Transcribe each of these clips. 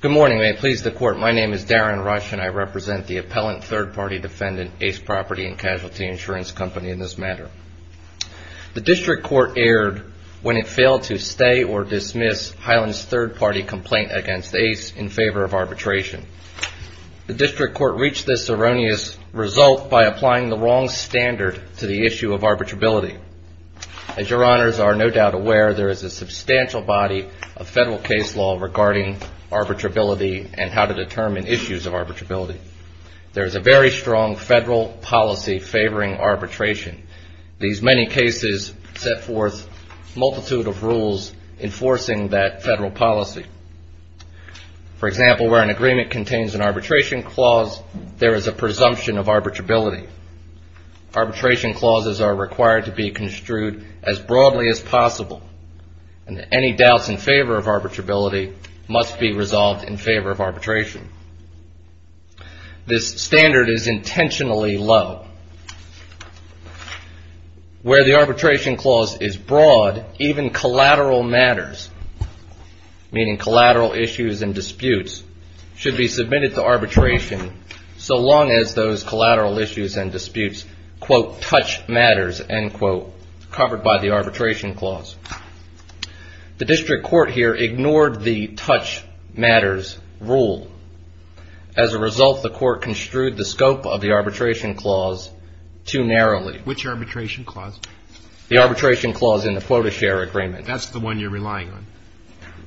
Good morning. May it please the Court, my name is Darren Rush and I represent the appellant third party defendant, Ace Property and Casualty Insurance Company in this matter. The District Court erred when it failed to stay or dismiss Highlands' third party complaint against Ace in favor of arbitration. The District Court reached this erroneous result by applying the wrong standard to the issue of arbitrability. As your honors are no doubt aware, there is a substantial body of federal case law regarding arbitrability and how to determine issues of arbitrability. There is a very strong federal policy favoring arbitration. These many cases set forth a multitude of rules enforcing that federal policy. For example, where an agreement contains an arbitration clause, there is a presumption of arbitrability. Arbitration clauses are required to be construed as broadly as possible and any doubts in favor of arbitrability must be resolved in favor of arbitration. This standard is intentionally low. Where the arbitration clause is broad, even collateral matters, meaning collateral issues and disputes, should be submitted to arbitration so long as those collateral issues and disputes, quote, touch matters, end quote, covered by the arbitration clause. The District Court here ignored the touch matters rule. As a result, the court construed the scope of the arbitration clause too narrowly. Which arbitration clause? The arbitration clause in the quota share agreement. That's the one you're relying on.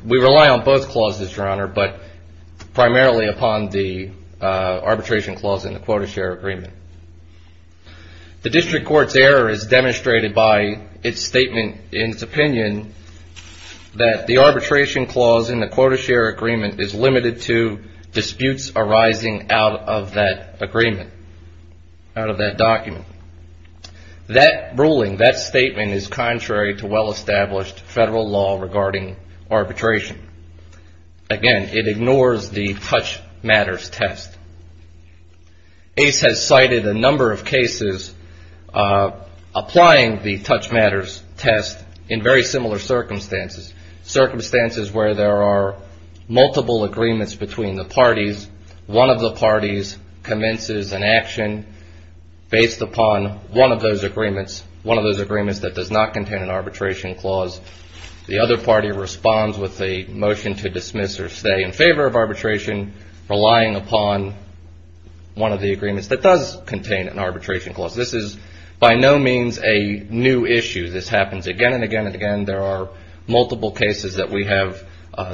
We rely on both clauses, your honor, but primarily upon the arbitration clause in the quota share agreement. The District Court's error is demonstrated by its statement in its opinion that the arbitration clause in the quota share agreement is limited to disputes arising out of that agreement, out of that document. That ruling, that statement is contrary to well-established federal law regarding arbitration. Again, it ignores the touch matters test. ACE has cited a number of cases applying the touch matters test in very similar circumstances. Circumstances where there are multiple agreements between the parties. One of the parties commences an action based upon one of those agreements, one of those agreements that does not contain an arbitration clause. The other party responds with a motion to dismiss or stay in favor of arbitration, relying upon one of the agreements that does contain an arbitration clause. This is by no means a new issue. This happens again and again and again. There are multiple cases that we have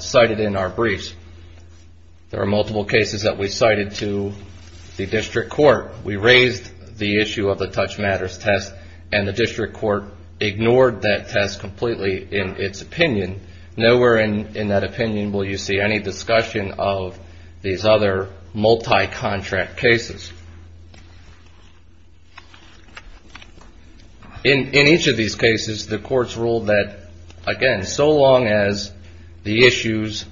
cited in our briefs. There are multiple cases that we cited to the District Court. The District Court ignored that test completely in its opinion. Nowhere in that opinion will you see any discussion of these other multi-contract cases. In each of these cases the courts ruled that, again, so long as the issues,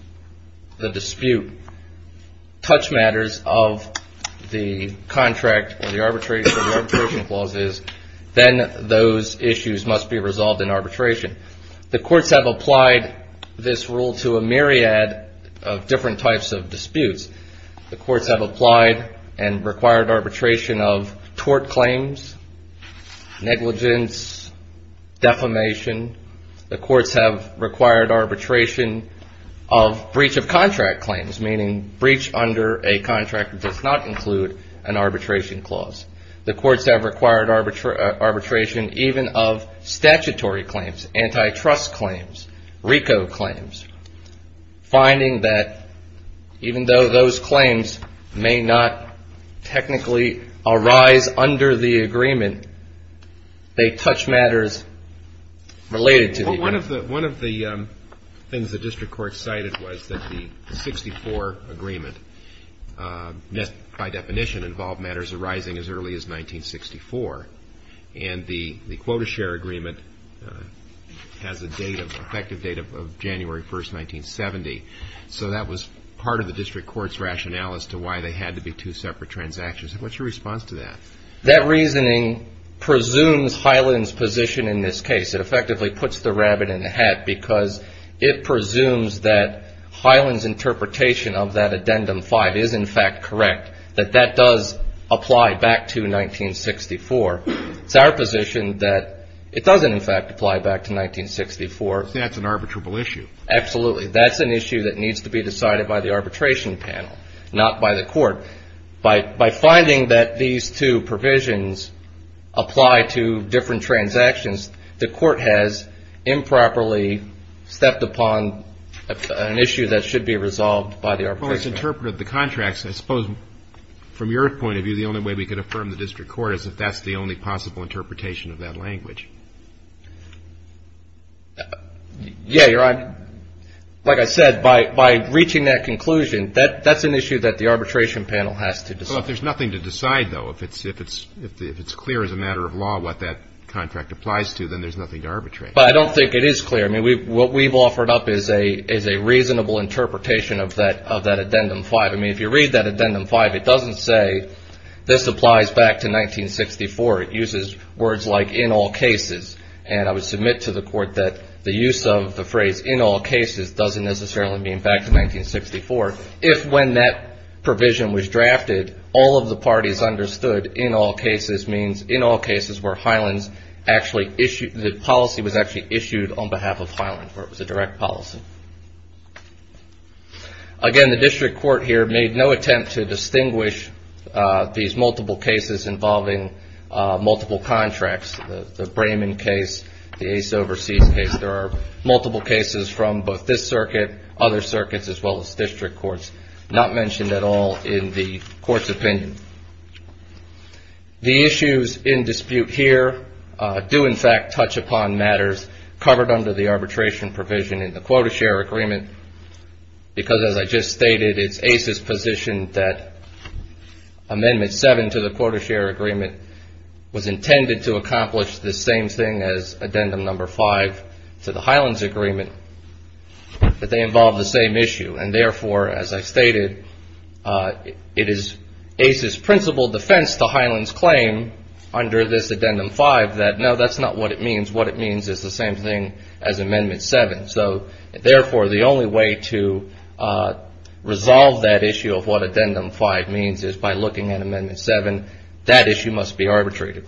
the dispute, touch matters of the contract or the arbitration clauses, then those issues must be resolved in arbitration. The courts have applied this rule to a myriad of different types of disputes. The courts have applied and required arbitration of tort claims, negligence, defamation. The courts have required arbitration of breach of contract claims, meaning breach under a contract that does not include an arbitration clause. The courts have required arbitration even of statutory claims, antitrust claims, RICO claims, finding that even though those claims may not technically arise under the agreement, they touch matters related to the agreement. One of the things the District Court cited was that the 64 agreement by definition involved matters arising as early as 1964. And the quota share agreement has a date, an effective date of January 1, 1970. So that was part of the District Court's rationale as to why they had to be two separate transactions. What's your response to that? That reasoning presumes Hyland's position in this case. It effectively puts the rabbit in the hat because it presumes that Hyland's interpretation of that Addendum 5 is in fact correct, that that does apply back to 1964. It's our position that it doesn't in fact apply back to 1964. So that's an arbitrable issue? Absolutely. That's an issue that needs to be decided by the arbitration panel, not by the court. By finding that these two provisions apply to different transactions, the court has improperly stepped upon an issue that should be resolved by the arbitration panel. Well, it's interpreted the contracts. I suppose from your point of view, the only way we could affirm the District Court is if that's the only possible interpretation of that language. Yeah, you're right. Like I said, by reaching that conclusion, that's an issue that the arbitration panel has to decide. Well, if there's nothing to decide, though, if it's clear as a matter of law what that contract applies to, then there's nothing to arbitrate. But I don't think it is clear. I mean, what we've offered up is a reasonable interpretation of that Addendum 5. I mean, if you read that Addendum 5, it doesn't say this applies back to 1964. It uses words like, in all cases. And I would submit to the court that the use of the phrase, in all cases, doesn't necessarily mean back to 1964. If when that provision was drafted, all of the parties understood in all cases means in all cases where Highland's actually issued, the policy was actually issued on behalf of Highland, where it was a direct policy. Again, the district court here made no attempt to distinguish these multiple cases involving multiple contracts, the Brayman case, the Ace Overseas case. There are multiple cases from both this circuit, other circuits, as well as district courts, not mentioned at all in the court's opinion. The issues in dispute here do, in fact, touch upon matters covered under the arbitration provision in the Quota Share Agreement, because as I just stated, it's Ace's position that Amendment 7 to the Quota Share Agreement was intended to accomplish the same thing as Addendum Number 5 to the Highland's Agreement, that they involve the same issue. And therefore, as I stated, it is Ace's principal defense to Highland's claim under this Addendum 5 that, no, that's not what it means. What it means is the same thing as Amendment 7. So, therefore, the only way to resolve that issue of what Addendum 5 means is by looking at Amendment 7. That issue must be arbitrated.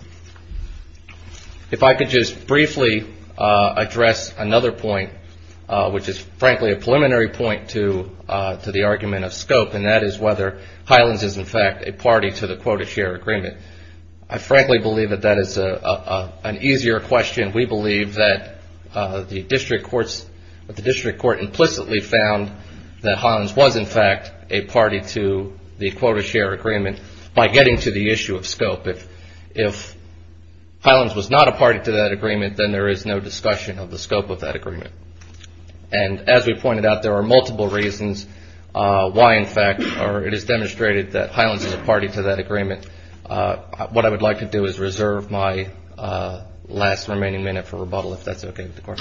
If I could just briefly address another point, which is frankly a preliminary point to the argument of scope, and that is whether Highland's is, in fact, a party to the Quota Share Agreement. I frankly believe that that is an easier question. We believe that the District Court implicitly found that Highland's was, in fact, a party to the Quota Share Agreement by getting to the issue of scope. If Highland's was not a party to that agreement, then there is no discussion of the scope of that agreement. And as we pointed out, there are multiple reasons why, in fact, it is demonstrated that I would like to do is reserve my last remaining minute for rebuttal, if that's okay with the Court.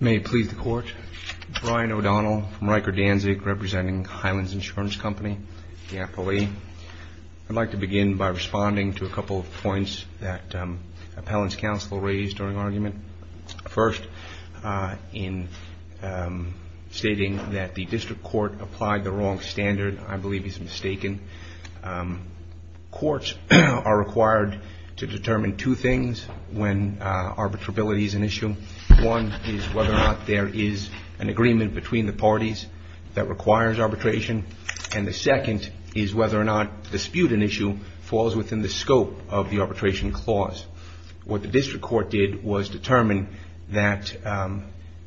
May it please the Court. Brian O'Donnell from Riker Danzig, representing Highland's Insurance Company, the APOE. I'd like to begin by responding to a couple of points that Appellant's Counsel raised during argument. First, in stating that the District Court applied the wrong standard, I believe he's mistaken, courts are required to determine two things when arbitrability is an issue. One is whether or not there is an agreement between the parties that requires arbitration, and the second is whether or not dispute an issue falls within the scope of the arbitration clause. What the District Court did was determine that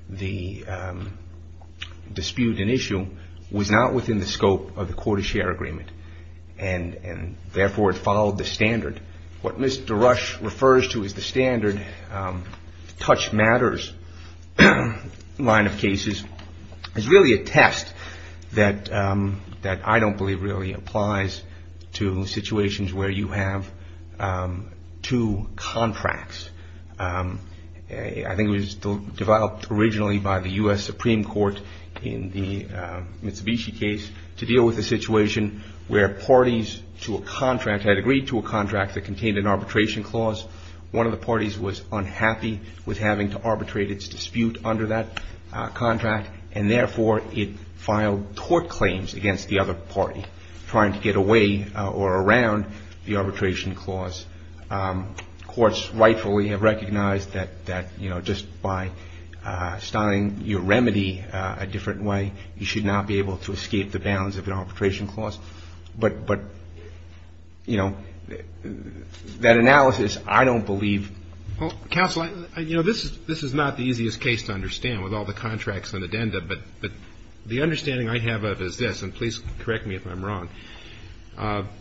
the dispute an issue falls within the scope of the court of share agreement, and therefore it followed the standard. What Mr. Rush refers to as the standard touch matters line of cases is really a test that I don't believe really applies to situations where you have two contracts. I think it was developed originally by the U.S. Supreme Court in the Mitsubishi case to deal with a situation where parties to a contract had agreed to a contract that contained an arbitration clause. One of the parties was unhappy with having to arbitrate its dispute under that contract, and therefore it filed court claims against the other party trying to get away or around the arbitration clause. Courts rightfully have recognized that just by styling your remedy a different way, you should not be able to escape the bounds of an arbitration clause. But, you know, that analysis, I don't believe. Well, counsel, you know, this is not the easiest case to understand with all the contracts and addenda, but the understanding I have of it is this, and please correct me if I'm wrong, but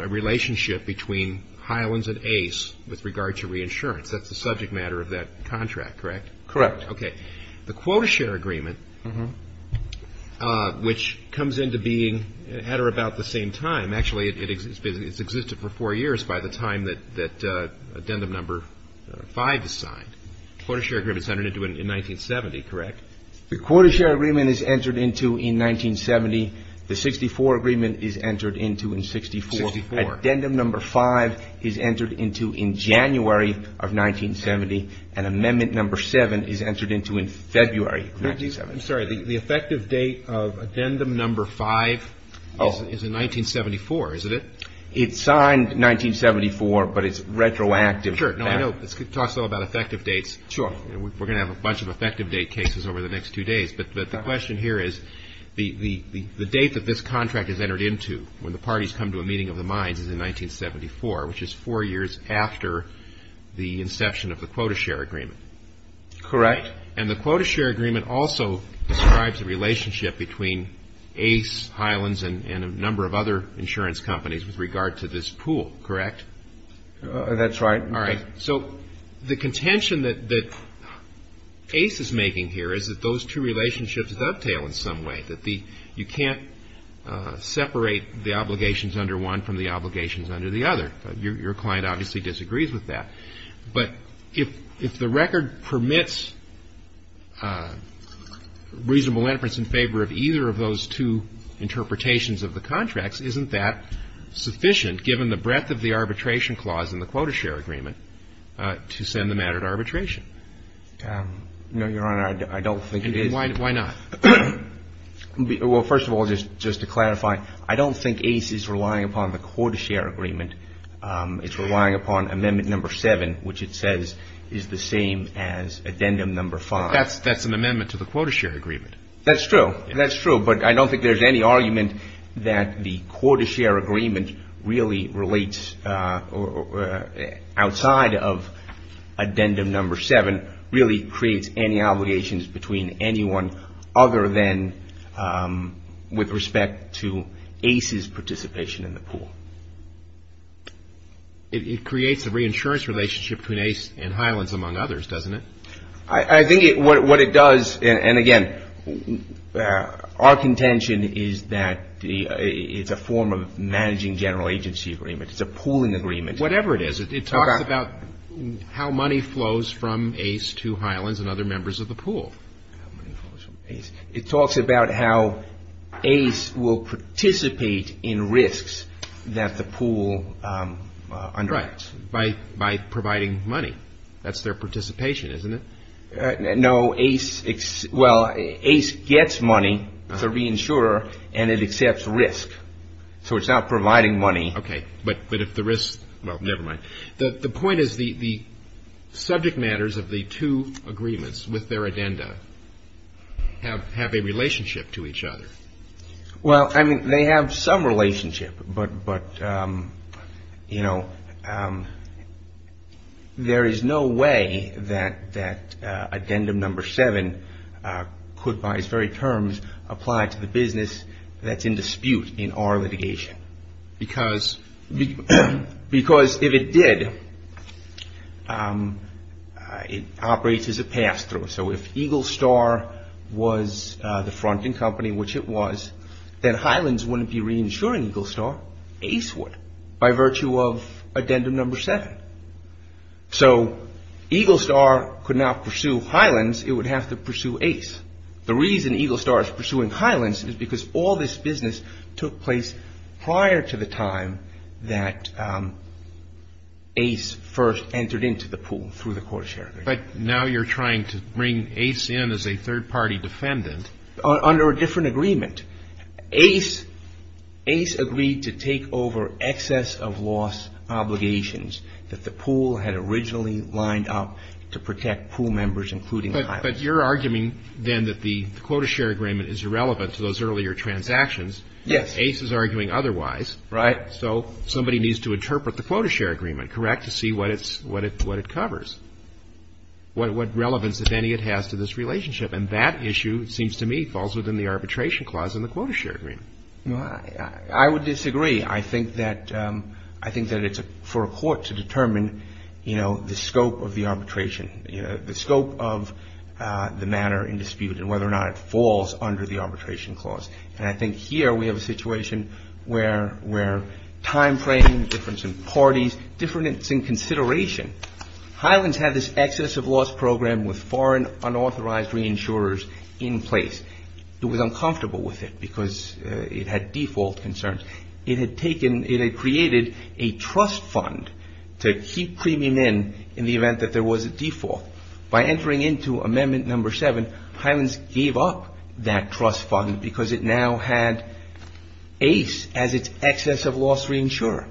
the relationship between Highlands and ACE with regard to reinsurance, that's the subject matter of that contract, correct? Correct. The quota share agreement, which comes into being at or about the same time, actually it's existed for four years by the time that addendum number five is signed, the quota share agreement is entered into in 1970, the 64 agreement is entered into in 64, addendum number five is entered into in January of 1970, and amendment number seven is entered into in February of 1970. I'm sorry. The effective date of addendum number five is in 1974, isn't it? It's signed 1974, but it's retroactive. Sure. I know it talks a lot about effective dates. We're going to have a bunch of effective date cases over the next two days, but the question here is the date that this contract is entered into when the parties come to a meeting of the minds is in 1974, which is four years after the inception of the quota share agreement. Correct. And the quota share agreement also describes the relationship between ACE, Highlands, and a number of other insurance companies with regard to this pool, correct? That's right. All right. So the contention that ACE is making here is that those two relationships dovetail in some way, that you can't separate the obligations under one from the obligations under the other. Your client obviously disagrees with that. But if the record permits reasonable inference in favor of either of those two interpretations of the contracts, isn't that sufficient given the breadth of the arbitration clause in the quota share agreement to send the matter to arbitration? No, Your Honor. I don't think it is. Why not? Well, first of all, just to clarify, I don't think ACE is relying upon the quota share agreement. It's relying upon amendment number seven, which it says is the same as addendum number five. That's an amendment to the quota share agreement. That's true. That's true. But I don't think there's any argument that the quota share agreement really relates outside of addendum number seven, really creates any obligations between anyone other than with respect to ACE's participation in the pool. It creates a reinsurance relationship between ACE and Highlands, among others, doesn't it? I think what it does, and again, our contention is that it's a form of managing general agency agreement. It's a pooling agreement. Whatever it is, it talks about how money flows from ACE to Highlands and other members of the pool. It talks about how ACE will participate in risks that the pool underwrites. Right. By providing money. That's their participation, isn't it? No. ACE, well, ACE gets money to reinsure and it accepts risk. So it's not providing money. Okay. But if the risk, well, never mind. The point is the subject matters of the two agreements with their addenda have a relationship to each other. Well, I mean, they have some relationship, but, you know, there is no way that addendum number seven could, by its very terms, apply to the business that's in dispute in our litigation. Because if it did, it operates as a pass through. So if Eagle Star was the fronting company, which it was, then Highlands wouldn't be reinsuring Eagle Star. ACE would, by virtue of addendum number seven. So Eagle Star could not pursue Highlands. It would have to pursue ACE. The reason Eagle Star is pursuing Highlands is because all this business took place prior to the time that ACE first entered into the pool through the quarter share agreement. But now you're trying to bring ACE in as a third party defendant. Under a different agreement, ACE agreed to take over excess of loss obligations that the pool had originally lined up to protect pool members, including Highlands. But you're arguing then that the quota share agreement is irrelevant to those earlier transactions. ACE is arguing otherwise. Right. So somebody needs to interpret the quota share agreement, correct, to see what it's what it what it covers. What relevance, if any, it has to this relationship. And that issue, it seems to me, falls within the arbitration clause in the quota share agreement. I would disagree. I think that I think that it's for a court to determine, you know, the scope of the arbitration, the scope of the matter in dispute and whether or not it falls under the arbitration clause. And I think here we have a situation where we're timeframe difference in parties, difference in consideration. Highlands had this excess of loss program with foreign unauthorized reinsurers in place. It was uncomfortable with it because it had default concerns. It had taken it had created a trust fund to keep premium in in the event that there was a default. By entering into Amendment No. 7, Highlands gave up that trust fund because it now had ACE as its excess of loss reinsurer.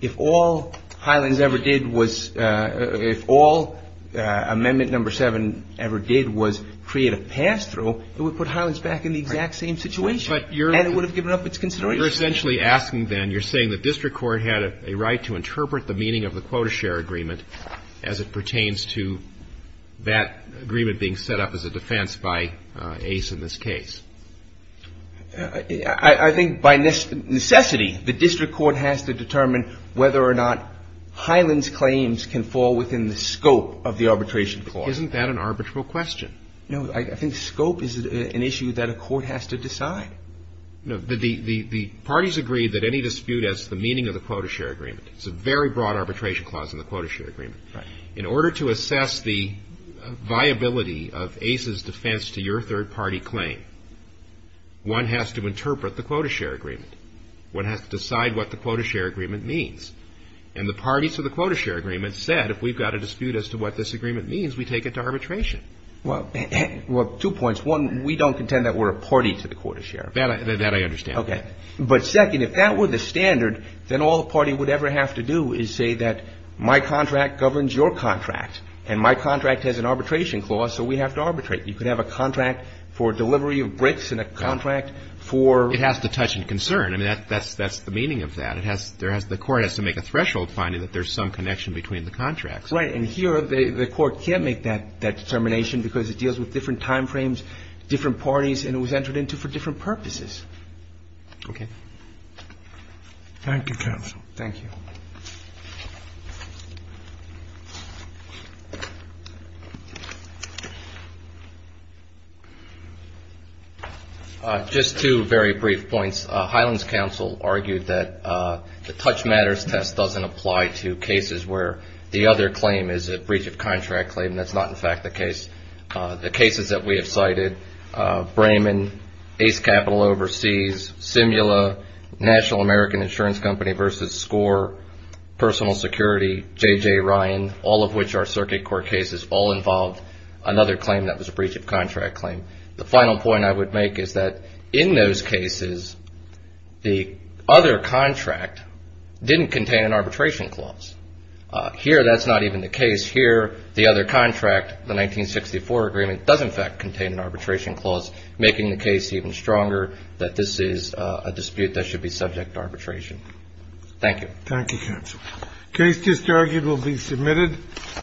If all Highlands ever did was if all Amendment No. 7 ever did was create a pass through, it would put Highlands back in the exact same situation. But you're and it would have given up its consideration. You're essentially asking then you're saying the district court had a right to interpret the meaning of the quota share agreement as it pertains to that agreement being set up as a defense by ACE in this case. I think by necessity, the district court has to determine whether or not Highlands claims can fall within the scope of the arbitration clause. Isn't that an arbitral question? No, I think scope is an issue that a court has to decide. No, the parties agree that any dispute as the meaning of the quota share agreement, it's a very broad arbitration clause in the quota share agreement. Right. In order to assess the viability of ACE's defense to your third party claim, you have one has to interpret the quota share agreement. One has to decide what the quota share agreement means. And the parties of the quota share agreement said, if we've got a dispute as to what this agreement means, we take it to arbitration. Well, well, two points. One, we don't contend that we're a party to the quota share. That I understand. OK, but second, if that were the standard, then all the party would ever have to do is say that my contract governs your contract and my contract has an arbitration clause. So we have to arbitrate. You could have a contract for delivery of bricks and a contract for. It has to touch and concern. I mean, that's the meaning of that. It has, there has, the court has to make a threshold finding that there's some connection between the contracts. Right. And here, the court can't make that determination because it deals with different time frames, different parties, and it was entered into for different purposes. OK. Thank you, counsel. Thank you. Just two very brief points. Highland's counsel argued that the touch matters test doesn't apply to cases where the other claim is a breach of contract claim. And that's not, in fact, the case, the cases that we have cited, Brayman, Ace Capital Overseas, Simula, National American Insurance Company versus SCORE, personal security, JJ Ryan, all of which are circuit court cases, all involved another claim that was a breach of contract claim. The final point I would make is that in those cases, the other contract didn't contain an arbitration clause. Here, that's not even the case. Here, the other contract, the 1964 agreement, does, in fact, contain an arbitration clause, making the case even stronger that this is a dispute that should be subject to arbitration. Thank you. Thank you, counsel. Case just argued will be submitted.